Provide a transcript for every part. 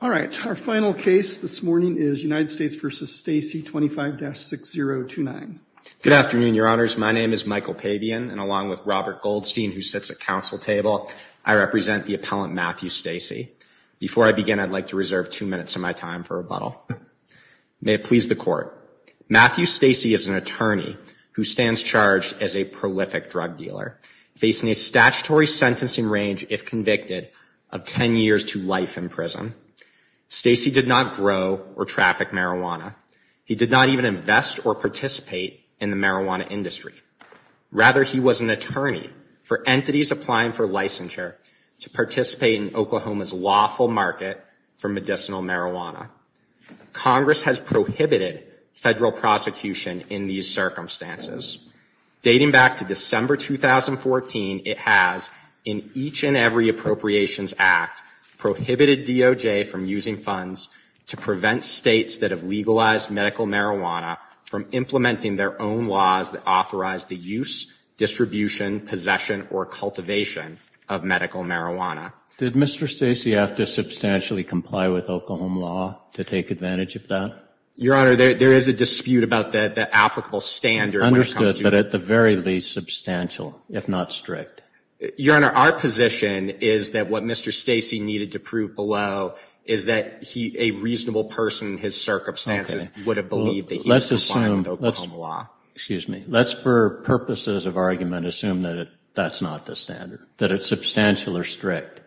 All right. Our final case this morning is United States v. Stacy 25-6029. Good afternoon, your honors. My name is Michael Pabian, and along with Robert Goldstein, who sits at council table, I represent the appellant Matthew Stacy. Before I begin, I'd like to reserve two minutes of my time for rebuttal. May it please the court. Matthew Stacy is an attorney who stands charged as a prolific drug dealer, facing a statutory sentencing range, if convicted, of 10 years to life in prison. Stacy did not grow or traffic marijuana. He did not even invest or participate in the marijuana industry. Rather, he was an attorney for entities applying for licensure to participate in Oklahoma's lawful market for medicinal marijuana. Congress has prohibited federal prosecution in these circumstances. Dating back to December 2014, it has, in each and every Appropriations Act, prohibited DOJ from using funds to prevent states that have legalized medical marijuana from implementing their own laws that authorize the use, distribution, possession, or cultivation of medical marijuana. Did Mr. Stacy have to substantially comply with Oklahoma law to take advantage of that? Your honor, there is a dispute about the applicable standard when it comes to Understood, but at the very least, substantial, if not strict. Your honor, our position is that what Mr. Stacy needed to prove below is that a reasonable person in his circumstances would have believed that he was complying with Oklahoma law. Excuse me. Let's, for purposes of argument, assume that that's not the standard, that it's substantial or strict.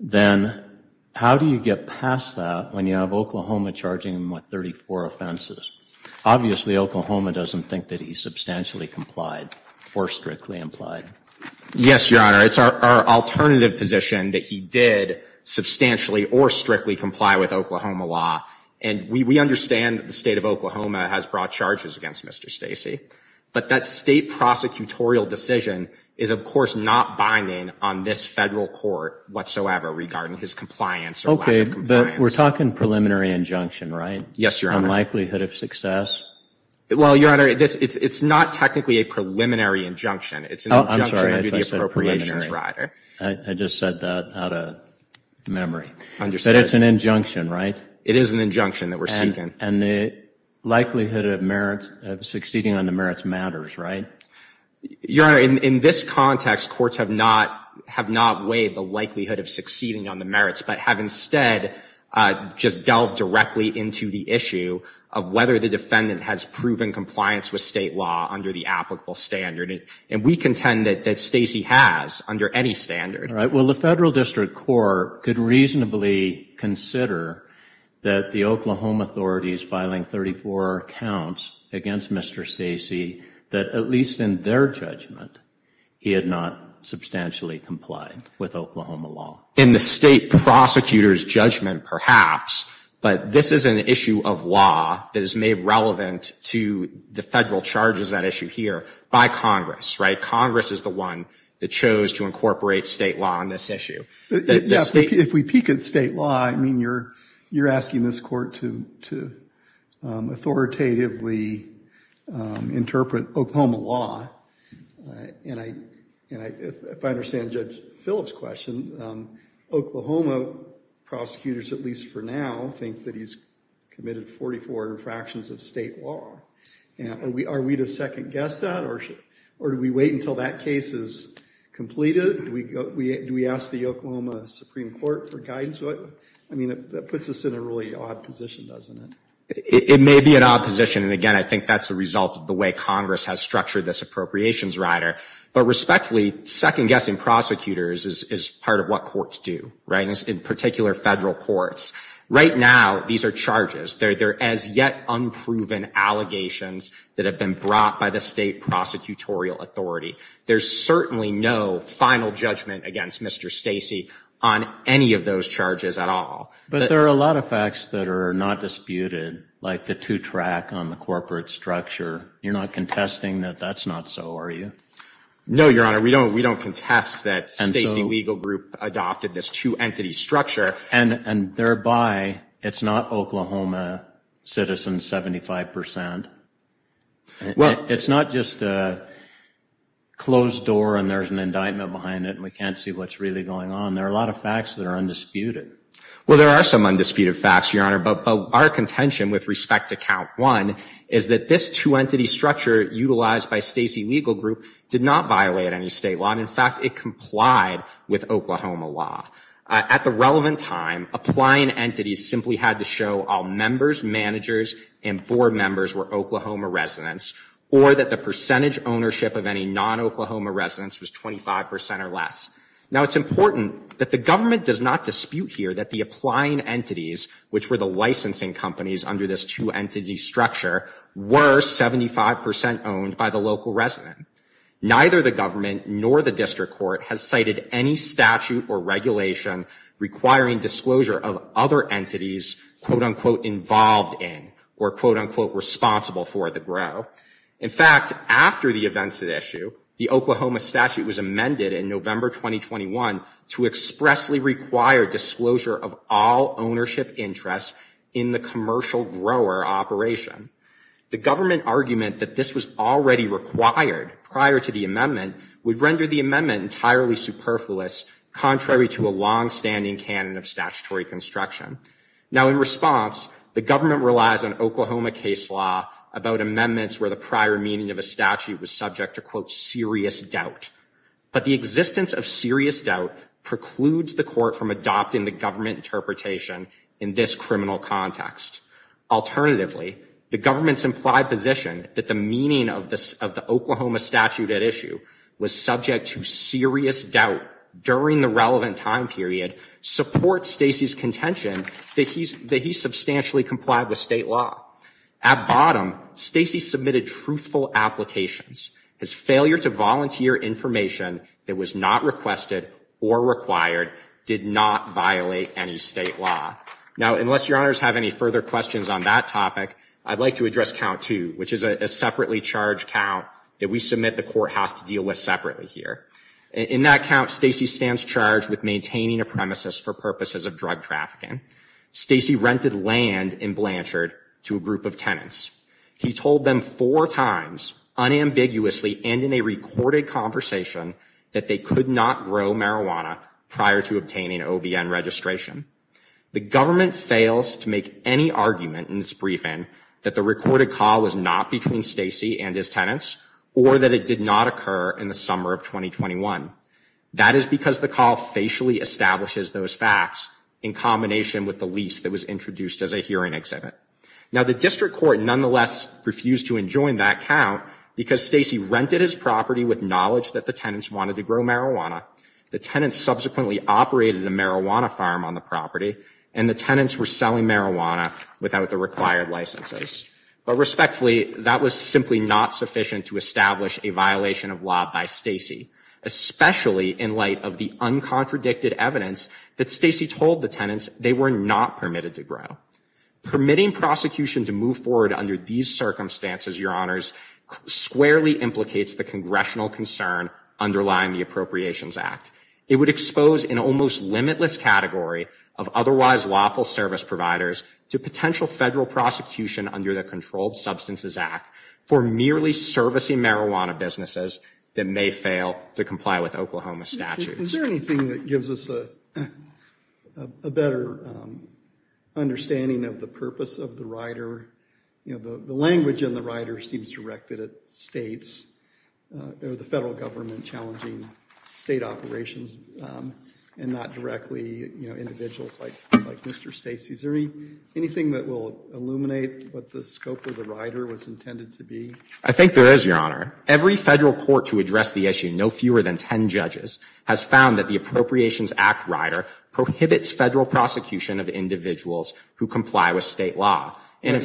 Then, how do you get past that when you have Oklahoma charging him with 34 offenses? Obviously, Oklahoma doesn't think that he substantially complied or strictly implied. Yes, your honor. It's our alternative position that he did substantially or strictly comply with Oklahoma law. And we understand that the state of Oklahoma has brought charges against Mr. Stacy. But that state prosecutorial decision is, of course, not binding on this federal court whatsoever regarding his compliance or lack of compliance. Okay, but we're talking preliminary injunction, right? Yes, your honor. Unlikelihood of success? Well, your honor, it's not technically a preliminary injunction. It's an injunction under the appropriations rider. I'm sorry if I said preliminary. I just said that out of memory. Understood. But it's an injunction, right? It is an injunction that we're seeking. And the likelihood of succeeding on the merits matters, right? Your honor, in this context, courts have not weighed the likelihood of succeeding on the merits, but have instead just delved directly into the issue of whether the defendant has proven compliance with state law under the applicable standard. And we contend that Stacy has under any standard. All right. Well, the federal district court could reasonably consider that the Oklahoma authorities filing 34 counts against Mr. Stacy, that at least in their judgment, he had not substantially complied with Oklahoma law. In the state prosecutor's judgment, perhaps. But this is an issue of law that is made relevant to the federal charges, that issue here, by Congress, right? Congress is the one that chose to incorporate state law on this issue. If we peek at state law, I mean, you're asking this court to authoritatively interpret Oklahoma law. And if I understand Judge Phillips' question, Oklahoma prosecutors, at least for now, think that he's committed 44 infractions of state law. Are we to second guess that? Or do we wait until that case is completed? Do we ask the Oklahoma Supreme Court for guidance? I mean, that puts us in a really odd position, doesn't it? It may be an odd position. And again, I think that's a result of the way Congress has structured this appropriations rider. But respectfully, second guessing prosecutors is part of what courts do, right? In particular, federal courts. Right now, these are charges. They're as yet unproven allegations that have been brought by the state prosecutorial authority. There's certainly no final judgment against Mr. Stacy on any of those charges at all. But there are a lot of facts that are not disputed, like the two-track on the corporate structure. You're not contesting that that's not so, are you? No, Your Honor. We don't contest that Stacy Legal Group adopted this two-entity structure. And thereby, it's not Oklahoma citizens, 75 percent. It's not just a closed door and there's an indictment behind it and we can't see what's really going on. There are a lot of facts that are undisputed. Well, there are some undisputed facts, Your Honor. But our contention with respect to count one is that this two-entity structure utilized by Stacy Legal Group did not violate any state law. And, in fact, it complied with Oklahoma law. At the relevant time, applying entities simply had to show all members, managers, and board members were Oklahoma residents or that the percentage ownership of any non-Oklahoma residents was 25 percent or less. Now, it's important that the government does not dispute here that the applying entities, which were the licensing companies under this two-entity structure, were 75 percent owned by the local resident. Neither the government nor the district court has cited any statute or regulation requiring disclosure of other entities quote-unquote involved in or quote-unquote responsible for the grow. In fact, after the events at issue, the Oklahoma statute was amended in November 2021 to expressly require disclosure of all ownership interests in the commercial grower operation. The government argument that this was already required prior to the amendment would render the amendment entirely superfluous contrary to a long-standing canon of statutory construction. Now, in response, the government relies on Oklahoma case law about amendments where the prior meaning of a statute was subject to quote serious doubt. But the existence of serious doubt precludes the court from adopting the government interpretation in this criminal context. Alternatively, the government's implied position that the meaning of the Oklahoma statute at issue was subject to serious doubt during the relevant time period supports Stacy's contention that he substantially complied with state law. At bottom, Stacy submitted truthful applications. His failure to volunteer information that was not requested or required did not violate any state law. Now, unless your honors have any further questions on that topic, I'd like to address count two, which is a separately charged count that we submit the courthouse to deal with separately here. In that count, Stacy stands charged with maintaining a premises for purposes of drug trafficking. Stacy rented land in Blanchard to a group of tenants. He told them four times unambiguously and in a recorded conversation that they could not grow marijuana prior to obtaining OBN registration. The government fails to make any argument in this briefing that the recorded call was not between Stacy and his tenants or that it did not occur in the summer of 2021. That is because the call facially establishes those facts in combination with the lease that was introduced as a hearing exhibit. Now, the district court nonetheless refused to enjoin that count because Stacy rented his property with knowledge that the tenants wanted to grow marijuana. The tenants subsequently operated a marijuana farm on the property, and the tenants were selling marijuana without the required licenses. But respectfully, that was simply not sufficient to establish a violation of law by Stacy, especially in light of the uncontradicted evidence that Stacy told the tenants they were not permitted to grow. Permitting prosecution to move forward under these circumstances, your honors, squarely implicates the congressional concern underlying the Appropriations Act. It would expose an almost limitless category of otherwise lawful service providers to potential federal prosecution under the Controlled Substances Act for merely servicing marijuana businesses that may fail to comply with Oklahoma statutes. Is there anything that gives us a better understanding of the purpose of the rider? The language in the rider seems directed at states. They're the federal government challenging state operations and not directly individuals like Mr. Stacy. Is there anything that will illuminate what the scope of the rider was intended to be? I think there is, your honor. Every federal court to address the issue, no fewer than 10 judges, has found that the Appropriations Act rider prohibits federal prosecution of individuals who comply with state law. I know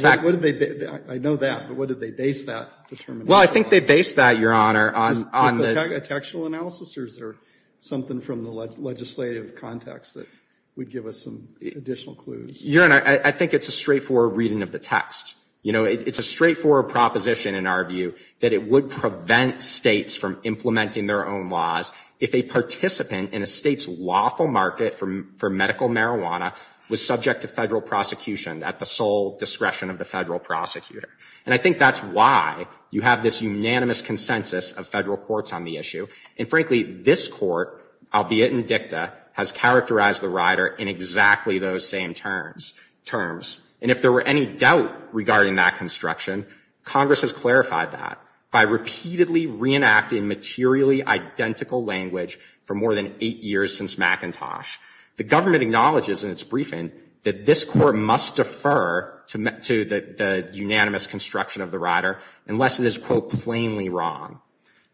that, but what did they base that determination on? Well, I think they based that, your honor, on the Is that a textual analysis or is there something from the legislative context that would give us some additional clues? Your honor, I think it's a straightforward reading of the text. You know, it's a straightforward proposition in our view that it would prevent states from implementing their own laws if a participant in a state's lawful market for medical marijuana was subject to federal prosecution at the sole discretion of the federal prosecutor. And I think that's why you have this unanimous consensus of federal courts on the issue. And frankly, this court, albeit in dicta, has characterized the rider in exactly those same terms. And if there were any doubt regarding that construction, Congress has clarified that. by repeatedly reenacting materially identical language for more than eight years since McIntosh. The government acknowledges in its briefing that this court must defer to the unanimous construction of the rider unless it is, quote, plainly wrong.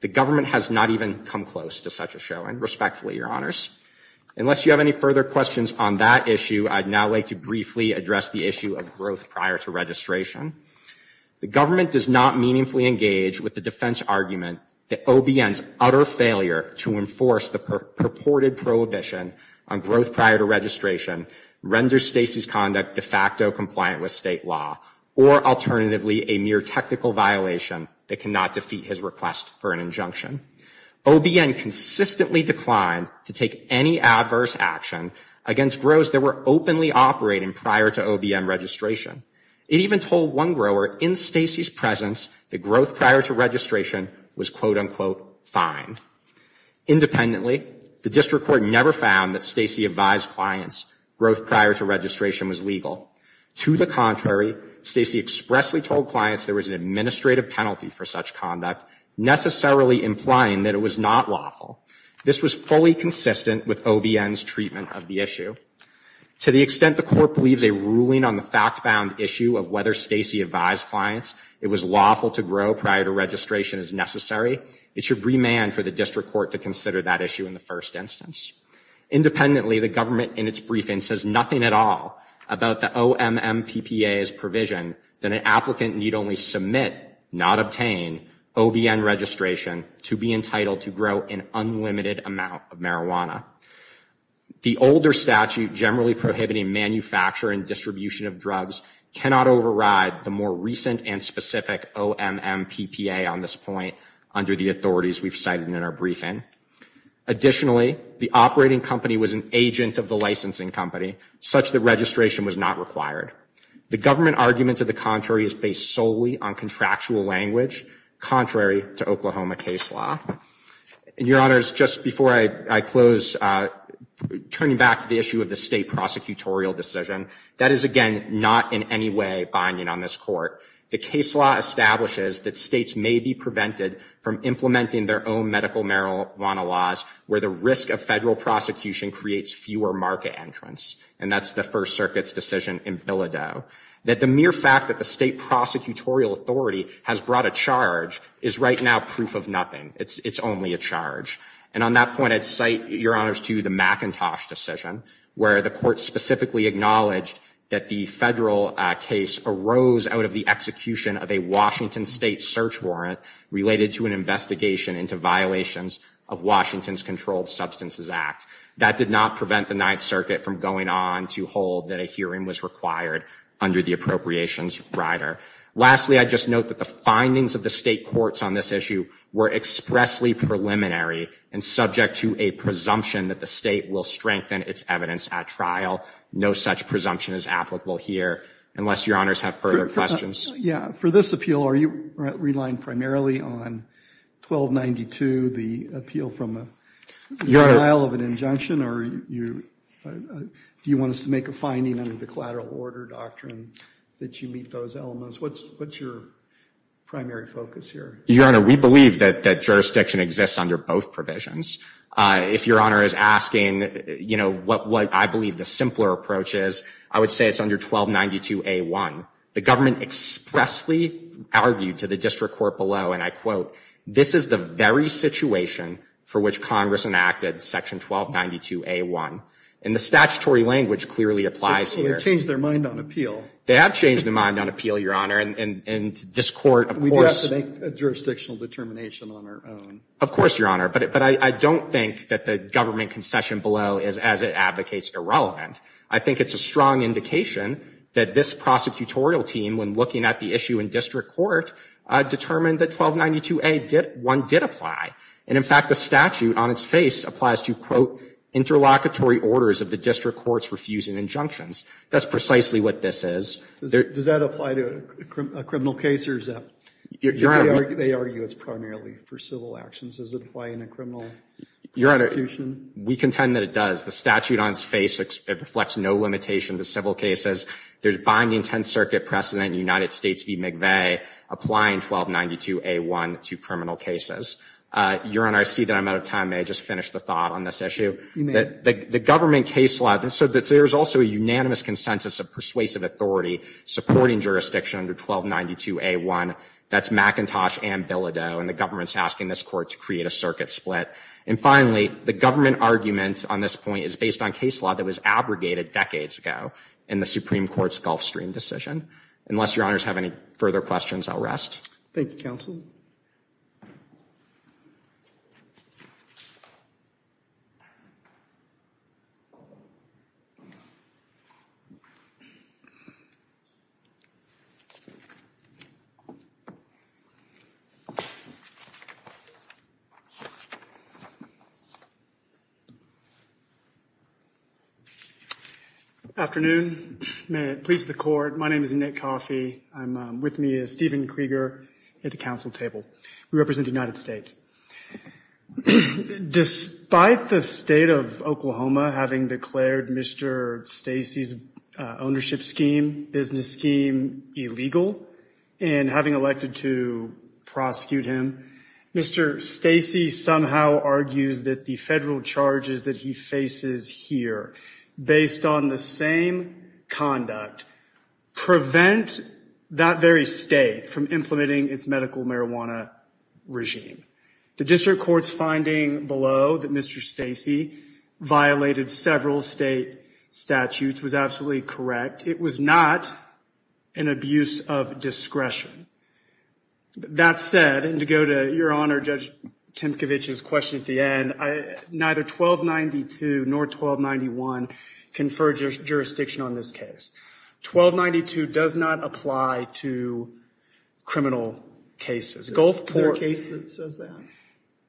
The government has not even come close to such a showing, respectfully, your honors. Unless you have any further questions on that issue, I'd now like to briefly address the issue of growth prior to registration. The government does not meaningfully engage with the defense argument that OBN's utter failure to enforce the purported prohibition on growth prior to registration renders Stacy's conduct de facto compliant with state law, or alternatively, a mere technical violation that cannot defeat his request for an injunction. OBN consistently declined to take any adverse action against grows that were openly operating prior to OBN registration. It even told one grower in Stacy's presence that growth prior to registration was, quote, unquote, fine. Independently, the district court never found that Stacy advised clients growth prior to registration was legal. To the contrary, Stacy expressly told clients there was an administrative penalty for such conduct, necessarily implying that it was not lawful. This was fully consistent with OBN's treatment of the issue. To the extent the court believes a ruling on the fact-bound issue of whether Stacy advised clients it was lawful to grow prior to registration is necessary, it should remand for the district court to consider that issue in the first instance. Independently, the government in its briefing says nothing at all about the OMMPPA's provision that an applicant need only submit, not obtain, OBN registration to be entitled to grow an unlimited amount of marijuana. The older statute generally prohibiting manufacture and distribution of drugs cannot override the more recent and specific OMMPPA on this point under the authorities we've cited in our briefing. Additionally, the operating company was an agent of the licensing company, such that registration was not required. The government argument to the contrary is based solely on contractual language, contrary to Oklahoma case law. Your Honor, just before I close, turning back to the issue of the state prosecutorial decision, that is, again, not in any way binding on this court. The case law establishes that states may be prevented from implementing their own medical marijuana laws where the risk of federal prosecution creates fewer market entrants, and that's the First Circuit's decision in Bilodeau. That the mere fact that the state prosecutorial authority has brought a charge is right now proof of nothing. It's only a charge. And on that point, I'd cite, Your Honors, to the McIntosh decision, where the court specifically acknowledged that the federal case arose out of the execution of a Washington state search warrant related to an investigation into violations of Washington's Controlled Substances Act. That did not prevent the Ninth Circuit from going on to hold that a hearing was required under the appropriations rider. Lastly, I'd just note that the findings of the state courts on this issue were expressly preliminary and subject to a presumption that the state will strengthen its evidence at trial. No such presumption is applicable here, unless Your Honors have further questions. Yeah, for this appeal, are you relying primarily on 1292, the appeal from a denial of an injunction, or do you want us to make a finding under the collateral order doctrine that you meet those elements? What's your primary focus here? Your Honor, we believe that jurisdiction exists under both provisions. If Your Honor is asking, you know, what I believe the simpler approach is, I would say it's under 1292A1. The government expressly argued to the district court below, and I quote, this is the very situation for which Congress enacted section 1292A1. And the statutory language clearly applies here. They have changed their mind on appeal. They have changed their mind on appeal, Your Honor, and this Court, of course We do have to make a jurisdictional determination on our own. Of course, Your Honor. But I don't think that the government concession below is, as it advocates, I think it's a strong indication that this prosecutorial team, when looking at the issue in district court, determined that 1292A1 did apply. And in fact, the statute on its face applies to, quote, interlocutory orders of the district courts refusing injunctions. That's precisely what this is. Does that apply to a criminal case or is that? Your Honor. They argue it's primarily for civil actions. Does it apply in a criminal prosecution? Your Honor, we contend that it does. The statute on its face reflects no limitation to civil cases. There's binding Tenth Circuit precedent in United States v. McVeigh applying 1292A1 to criminal cases. Your Honor, I see that I'm out of time. May I just finish the thought on this issue? You may. The government case law said that there is also a unanimous consensus of persuasive authority supporting jurisdiction under 1292A1. That's McIntosh and Bilodeau, and the government is asking this court to create a circuit split. And finally, the government argument on this point is based on case law that was abrogated decades ago in the Supreme Court's Gulfstream decision. Unless Your Honors have any further questions, I'll rest. Thank you, counsel. Afternoon. May it please the court, my name is Nick Coffey. I'm with me is Stephen Krieger at the council table. We represent the United States. Despite the state of Oklahoma having declared Mr. Stacey's ownership scheme, business scheme, illegal, and having elected to prosecute him, Mr. Stacey somehow argues that the federal charges that he faces here, based on the same conduct, prevent that very state from implementing its medical marijuana regime. The district court's finding below that Mr. Stacey violated several state statutes was absolutely correct. It was not an abuse of discretion. That said, and to go to Your Honor, Judge Timkovich's question at the end, neither 1292 nor 1291 confer jurisdiction on this case. 1292 does not apply to criminal cases. Is there a case that says that?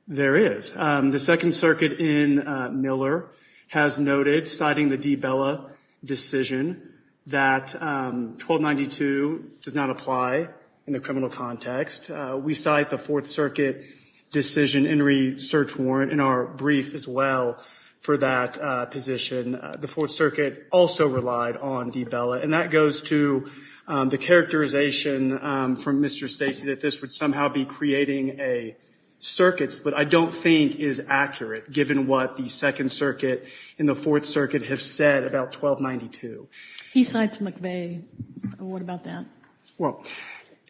There is. The Second Circuit in Miller has noted, citing the DeBella decision, that 1292 does not apply in the criminal context. We cite the Fourth Circuit decision and research warrant in our brief as well for that position. The Fourth Circuit also relied on DeBella. And that goes to the characterization from Mr. Stacey that this would somehow be creating a circuit that I don't think is accurate, given what the Second Circuit and the Fourth Circuit have said about 1292. He cites McVeigh. What about that? Well,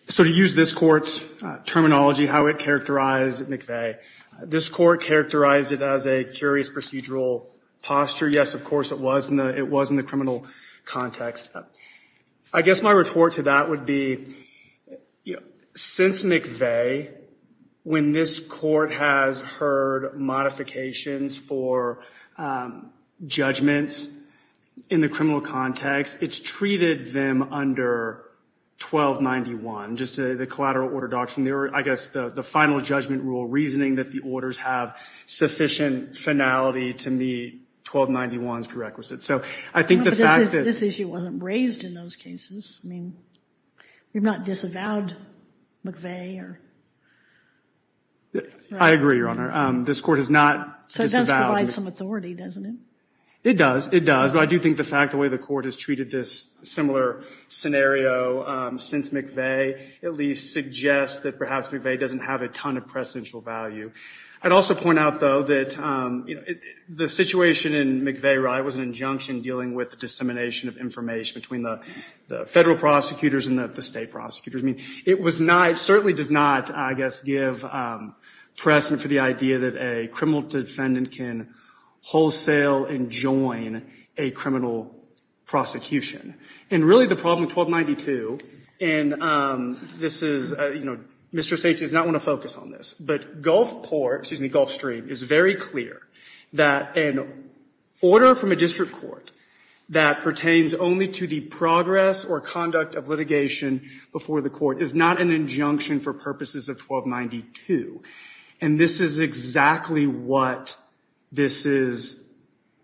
so to use this court's terminology, how it characterized McVeigh, this court characterized it as a curious procedural posture. Yes, of course, it was in the criminal context. I guess my report to that would be, since McVeigh, when this court has heard modifications for judgments in the criminal context, it's treated them under 1291, just the collateral order doctrine. I guess the final judgment rule, reasoning that the orders have sufficient finality to meet 1291's prerequisites. So I think the fact that— But this issue wasn't raised in those cases. I mean, you're not disavowed McVeigh or— I agree, Your Honor. This court has not disavowed— So it does provide some authority, doesn't it? It does. It does. But I do think the fact the way the court has treated this similar scenario since McVeigh at least suggests that perhaps McVeigh doesn't have a ton of precedential value. I'd also point out, though, that the situation in McVeigh was an injunction dealing with the dissemination of information between the federal prosecutors and the state prosecutors. I mean, it was not, certainly does not, I guess, give precedent for the idea that a criminal defendant can wholesale and join a criminal prosecution. And really the problem with 1292, and this is, you know, Mr. States does not want to focus on this, but Gulfport, excuse me, Gulfstream, is very clear that an order from a district court that pertains only to the progress or conduct of litigation before the court is not an injunction for purposes of 1292. And this is exactly what this is,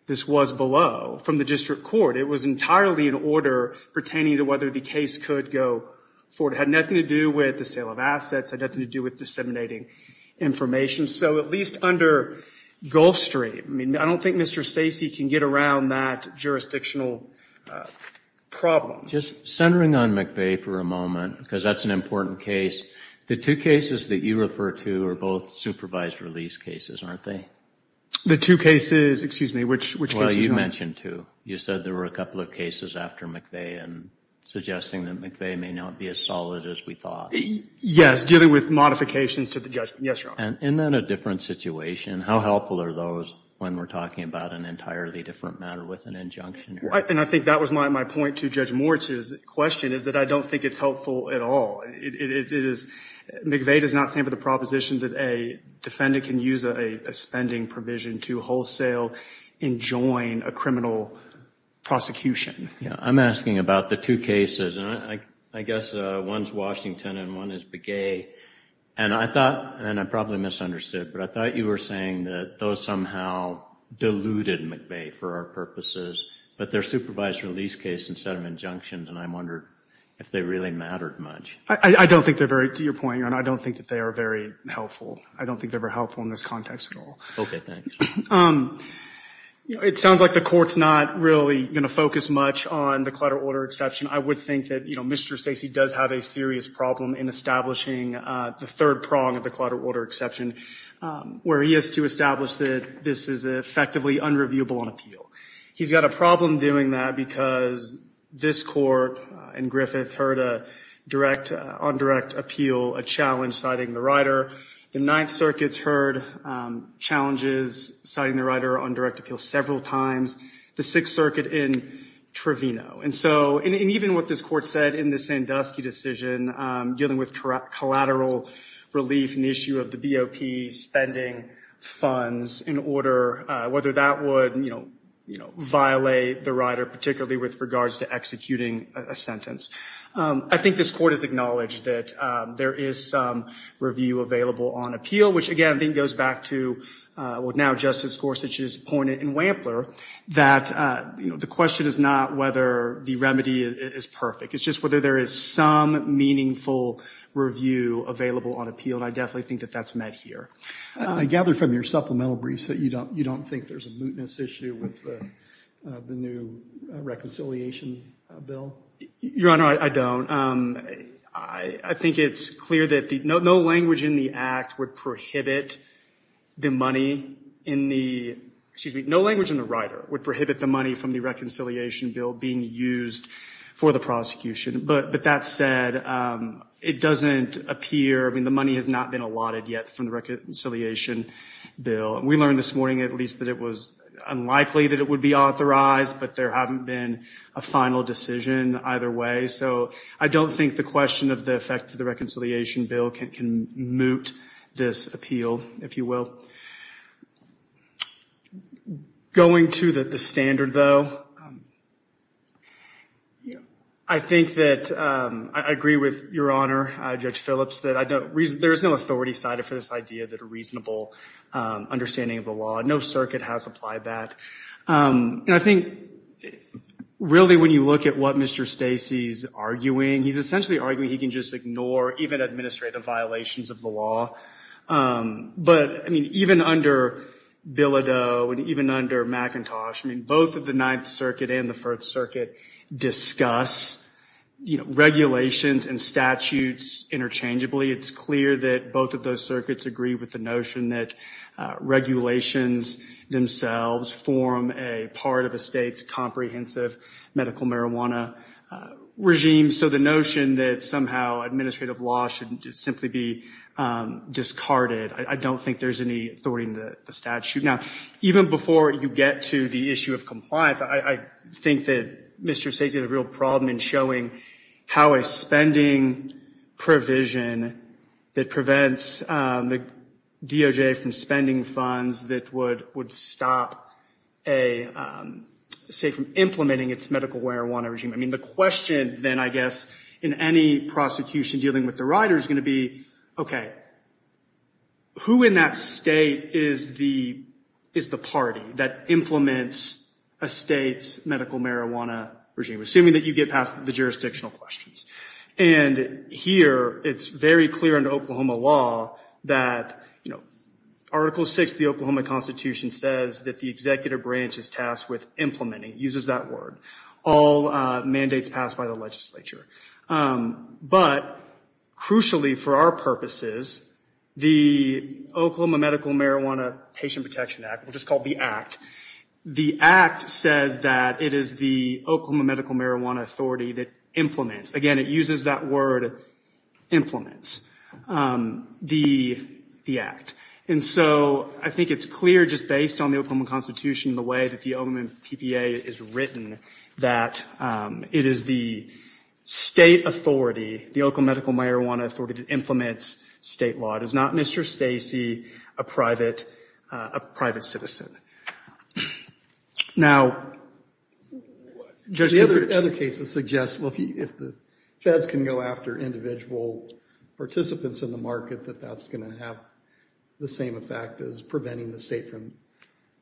this was below from the district court. It was entirely an order pertaining to whether the case could go forward. It had nothing to do with the sale of assets. It had nothing to do with disseminating information. So at least under Gulfstream, I mean, I don't think Mr. Stacey can get around that jurisdictional problem. Just centering on McVeigh for a moment, because that's an important case, the two cases that you refer to are both supervised release cases, aren't they? The two cases, excuse me, which cases, Your Honor? Well, you mentioned two. You said there were a couple of cases after McVeigh and suggesting that McVeigh may not be as solid as we thought. Yes, dealing with modifications to the judgment, yes, Your Honor. And isn't that a different situation? How helpful are those when we're talking about an entirely different matter with an injunction? And I think that was my point to Judge Moritz's question, is that I don't think it's helpful at all. McVeigh does not stand for the proposition that a defendant can use a spending provision to wholesale and join a criminal prosecution. I'm asking about the two cases, and I guess one's Washington and one is Begay. And I thought, and I probably misunderstood, but I thought you were saying that those somehow deluded McVeigh for our purposes. But they're supervised release cases instead of injunctions, and I wondered if they really mattered much. I don't think they're very, to your point, Your Honor, I don't think that they are very helpful. I don't think they were helpful in this context at all. Okay, thanks. It sounds like the Court's not really going to focus much on the clutter order exception. I would think that, you know, Mr. Stacey does have a serious problem in establishing the third prong of the clutter order exception, where he has to establish that this is effectively unreviewable on appeal. He's got a problem doing that because this Court in Griffith heard a direct on direct appeal, a challenge citing the writer. The Ninth Circuit's heard challenges citing the writer on direct appeal several times. The Sixth Circuit in Trevino. And so, and even what this Court said in the Sandusky decision, dealing with collateral relief and the issue of the BOP spending funds in order, whether that would, you know, violate the writer, particularly with regards to executing a sentence. I think this Court has acknowledged that there is some review available on appeal, which, again, I think goes back to what now Justice Gorsuch has pointed in Wampler that, you know, the question is not whether the remedy is perfect. It's just whether there is some meaningful review available on appeal, and I definitely think that that's met here. I gather from your supplemental briefs that you don't think there's a mootness issue with the new reconciliation bill. Your Honor, I don't. I think it's clear that no language in the act would prohibit the money in the, excuse me, no language in the writer would prohibit the money from the reconciliation bill being used for the prosecution. But that said, it doesn't appear, I mean, the money has not been allotted yet from the reconciliation bill. We learned this morning at least that it was unlikely that it would be authorized, but there haven't been a final decision either way. So I don't think the question of the effect of the reconciliation bill can moot this appeal, if you will. Going to the standard, though, I think that I agree with Your Honor, Judge Phillips, that there is no authority cited for this idea that a reasonable understanding of the law. No circuit has applied that. And I think really when you look at what Mr. Stacey is arguing, he's essentially arguing he can just ignore even administrative violations of the law. But, I mean, even under Bilodeau and even under McIntosh, I mean, both of the Ninth Circuit and the First Circuit discuss, you know, arguably it's clear that both of those circuits agree with the notion that regulations themselves form a part of a state's comprehensive medical marijuana regime. So the notion that somehow administrative law should simply be discarded, I don't think there's any authority in the statute. Now, even before you get to the issue of compliance, I think that Mr. Stacey has a real problem in showing how a spending provision that prevents the DOJ from spending funds that would stop a state from implementing its medical marijuana regime. I mean, the question then, I guess, in any prosecution dealing with the writer is going to be, okay, who in that state is the party that implements a state's medical marijuana regime, assuming that you get past the jurisdictional questions? And here it's very clear in Oklahoma law that, you know, Article VI of the Oklahoma Constitution says that the executive branch is tasked with implementing, uses that word, all mandates passed by the legislature. But crucially for our purposes, the Oklahoma Medical Marijuana Patient Protection Act, which is called the Act, the Act says that it is the Oklahoma Medical Marijuana Authority that implements. Again, it uses that word, implements, the Act. And so I think it's clear just based on the Oklahoma Constitution, the way that the OMMPPA is written, that it is the state authority, the Oklahoma Medical Marijuana Authority that implements state law. It is not Mr. Stacey, a private citizen. Now, Judge, the other cases suggest, well, if the feds can go after individual participants in the market, that that's going to have the same effect as preventing the state from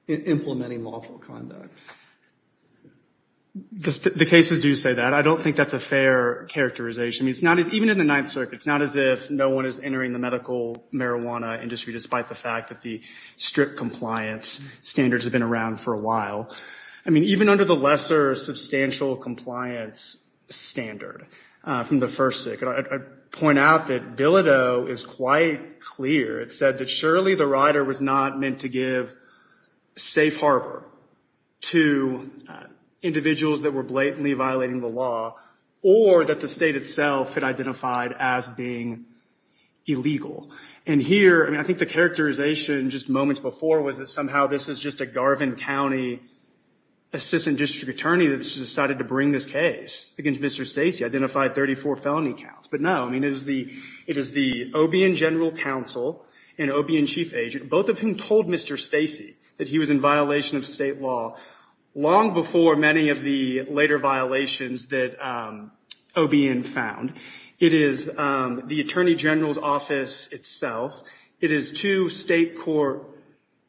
implementing lawful conduct. The cases do say that. I don't think that's a fair characterization. Even in the Ninth Circuit, it's not as if no one is entering the medical marijuana industry, despite the fact that the strict compliance standards have been around for a while. I mean, even under the lesser substantial compliance standard from the First Circuit, I'd point out that Bilodeau is quite clear. It said that surely the rider was not meant to give safe harbor to individuals that were blatantly violating the law, or that the state itself had identified as being illegal. And here, I mean, I think the characterization just moments before was that somehow this is just a Garvin County assistant district attorney that has decided to bring this case against Mr. Stacey, identified 34 felony counts. But no, I mean, it is the OBN general counsel and OBN chief agent, both of whom told Mr. Stacey that he was in violation of state law long before many of the later violations that OBN found. It is the attorney general's office itself. It is two state court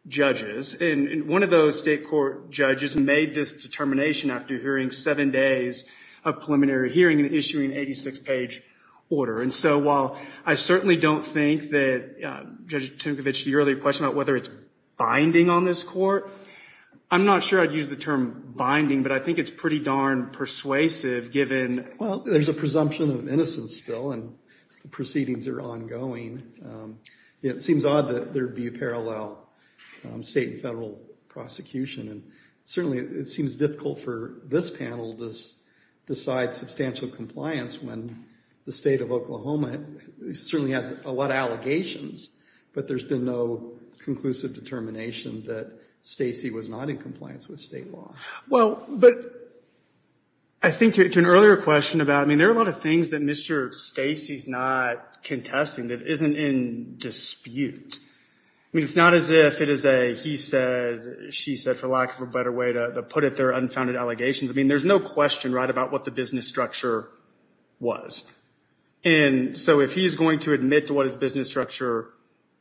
judges. And one of those state court judges made this determination after hearing seven days of preliminary hearing and issuing an 86-page order. And so while I certainly don't think that Judge Timkovich, your earlier question about whether it's binding on this court, I'm not sure I'd use the term binding, but I think it's pretty darn persuasive, given — the proceedings are ongoing. It seems odd that there would be a parallel state and federal prosecution. And certainly it seems difficult for this panel to decide substantial compliance when the state of Oklahoma certainly has a lot of allegations. But there's been no conclusive determination that Stacey was not in compliance with state law. Well, but I think to an earlier question about — I mean, there are a lot of things that Mr. Stacey's not contesting that isn't in dispute. I mean, it's not as if it is a he said, she said, for lack of a better way to put it, they're unfounded allegations. I mean, there's no question right about what the business structure was. And so if he's going to admit to what his business structure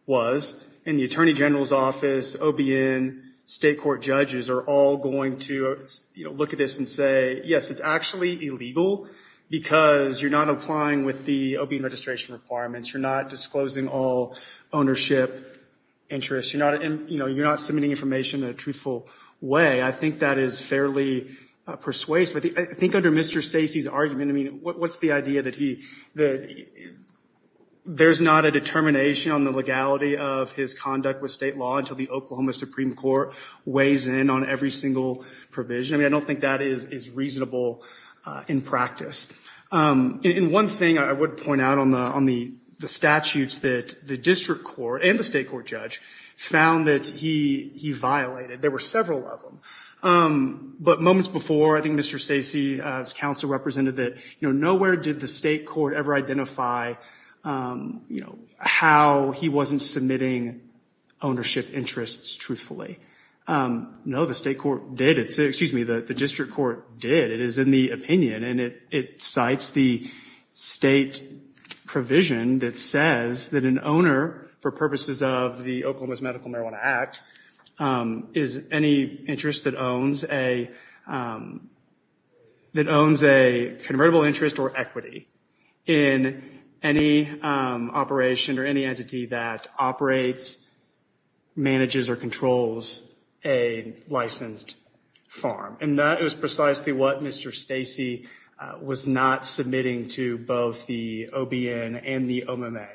was, and the attorney general's office, OBN, state court judges are all going to look at this and say, yes, it's actually illegal because you're not applying with the OBN registration requirements. You're not disclosing all ownership interests. You're not, you know, you're not submitting information in a truthful way. I think that is fairly persuasive. I think under Mr. Stacey's argument, I mean, what's the idea that he — that there's not a determination on the legality of his conduct with state law until the Oklahoma Supreme Court weighs in on every single provision? I mean, I don't think that is reasonable in practice. And one thing I would point out on the statutes that the district court and the state court judge found that he violated, there were several of them. But moments before, I think Mr. Stacey's counsel represented that, you know, nowhere did the state court ever identify, you know, how he wasn't submitting ownership interests truthfully. No, the state court did. Excuse me, the district court did. It is in the opinion and it cites the state provision that says that an owner, for purposes of the Oklahoma's Medical Marijuana Act, is any interest that owns a — that owns a convertible interest or equity in any operation or any entity that operates, manages, or controls a licensed farm. And that is precisely what Mr. Stacey was not submitting to both the OBN and the OMMA.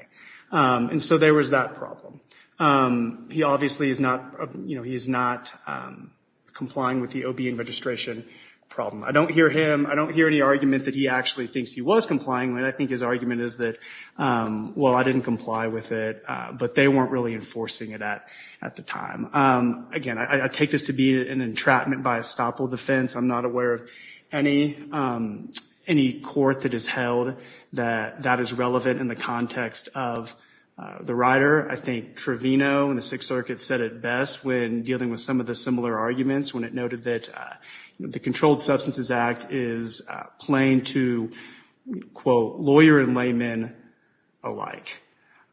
And so there was that problem. He obviously is not, you know, he is not complying with the OBN registration problem. I don't hear him, I don't hear any argument that he actually thinks he was complying with it. I think his argument is that, well, I didn't comply with it, but they weren't really enforcing it at the time. Again, I take this to be an entrapment by estoppel defense. I'm not aware of any court that has held that that is relevant in the context of the rider. I think Trevino and the Sixth Circuit said it best when dealing with some of the similar arguments when it noted that the Controlled Substances Act is plain to, quote, lawyer and layman alike.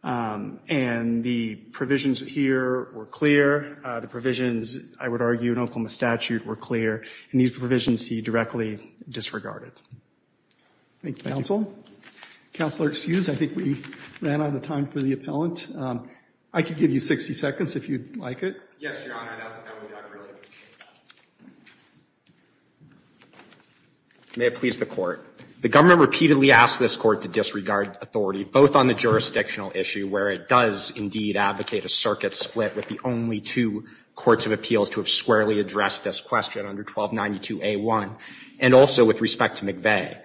And the provisions here were clear. The provisions, I would argue, in Oklahoma statute were clear. And these provisions he directly disregarded. Thank you. Thank you, counsel. Counselor, excuse, I think we ran out of time for the appellant. I could give you 60 seconds if you'd like it. Yes, Your Honor. I will talk to you later. May it please the Court. The government repeatedly asked this Court to disregard authority, both on the jurisdictional issue, where it does, indeed, advocate a circuit split with the only two courts of appeals to have squarely addressed this question under 1292A1, and also with respect to McVeigh,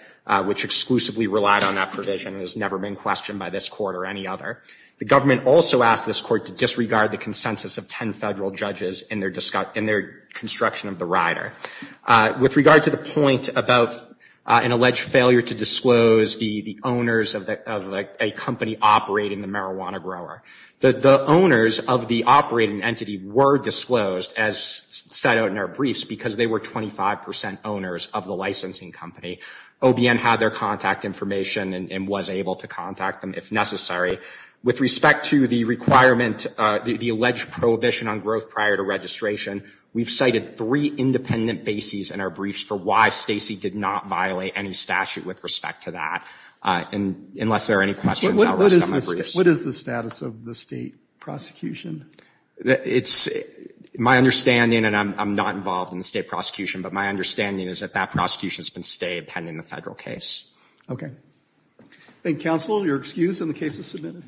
which exclusively relied on that provision and has never been questioned by this Court or any other. The government also asked this Court to disregard the consensus of 10 federal judges in their construction of the rider. With regard to the point about an alleged failure to disclose the owners of a company operating the marijuana grower, the owners of the operating entity were disclosed, as set out in our briefs, because they were 25 percent owners of the licensing company. OBN had their contact information and was able to contact them if necessary. With respect to the requirement, the alleged prohibition on growth prior to registration, we've cited three independent bases in our briefs for why Stacy did not violate any statute with respect to that, unless there are any questions. What is the status of the state prosecution? It's my understanding, and I'm not involved in the state prosecution, but my understanding is that that prosecution has been stayed pending the federal case. Okay. Thank you, Counsel. You're excused, and the case is submitted.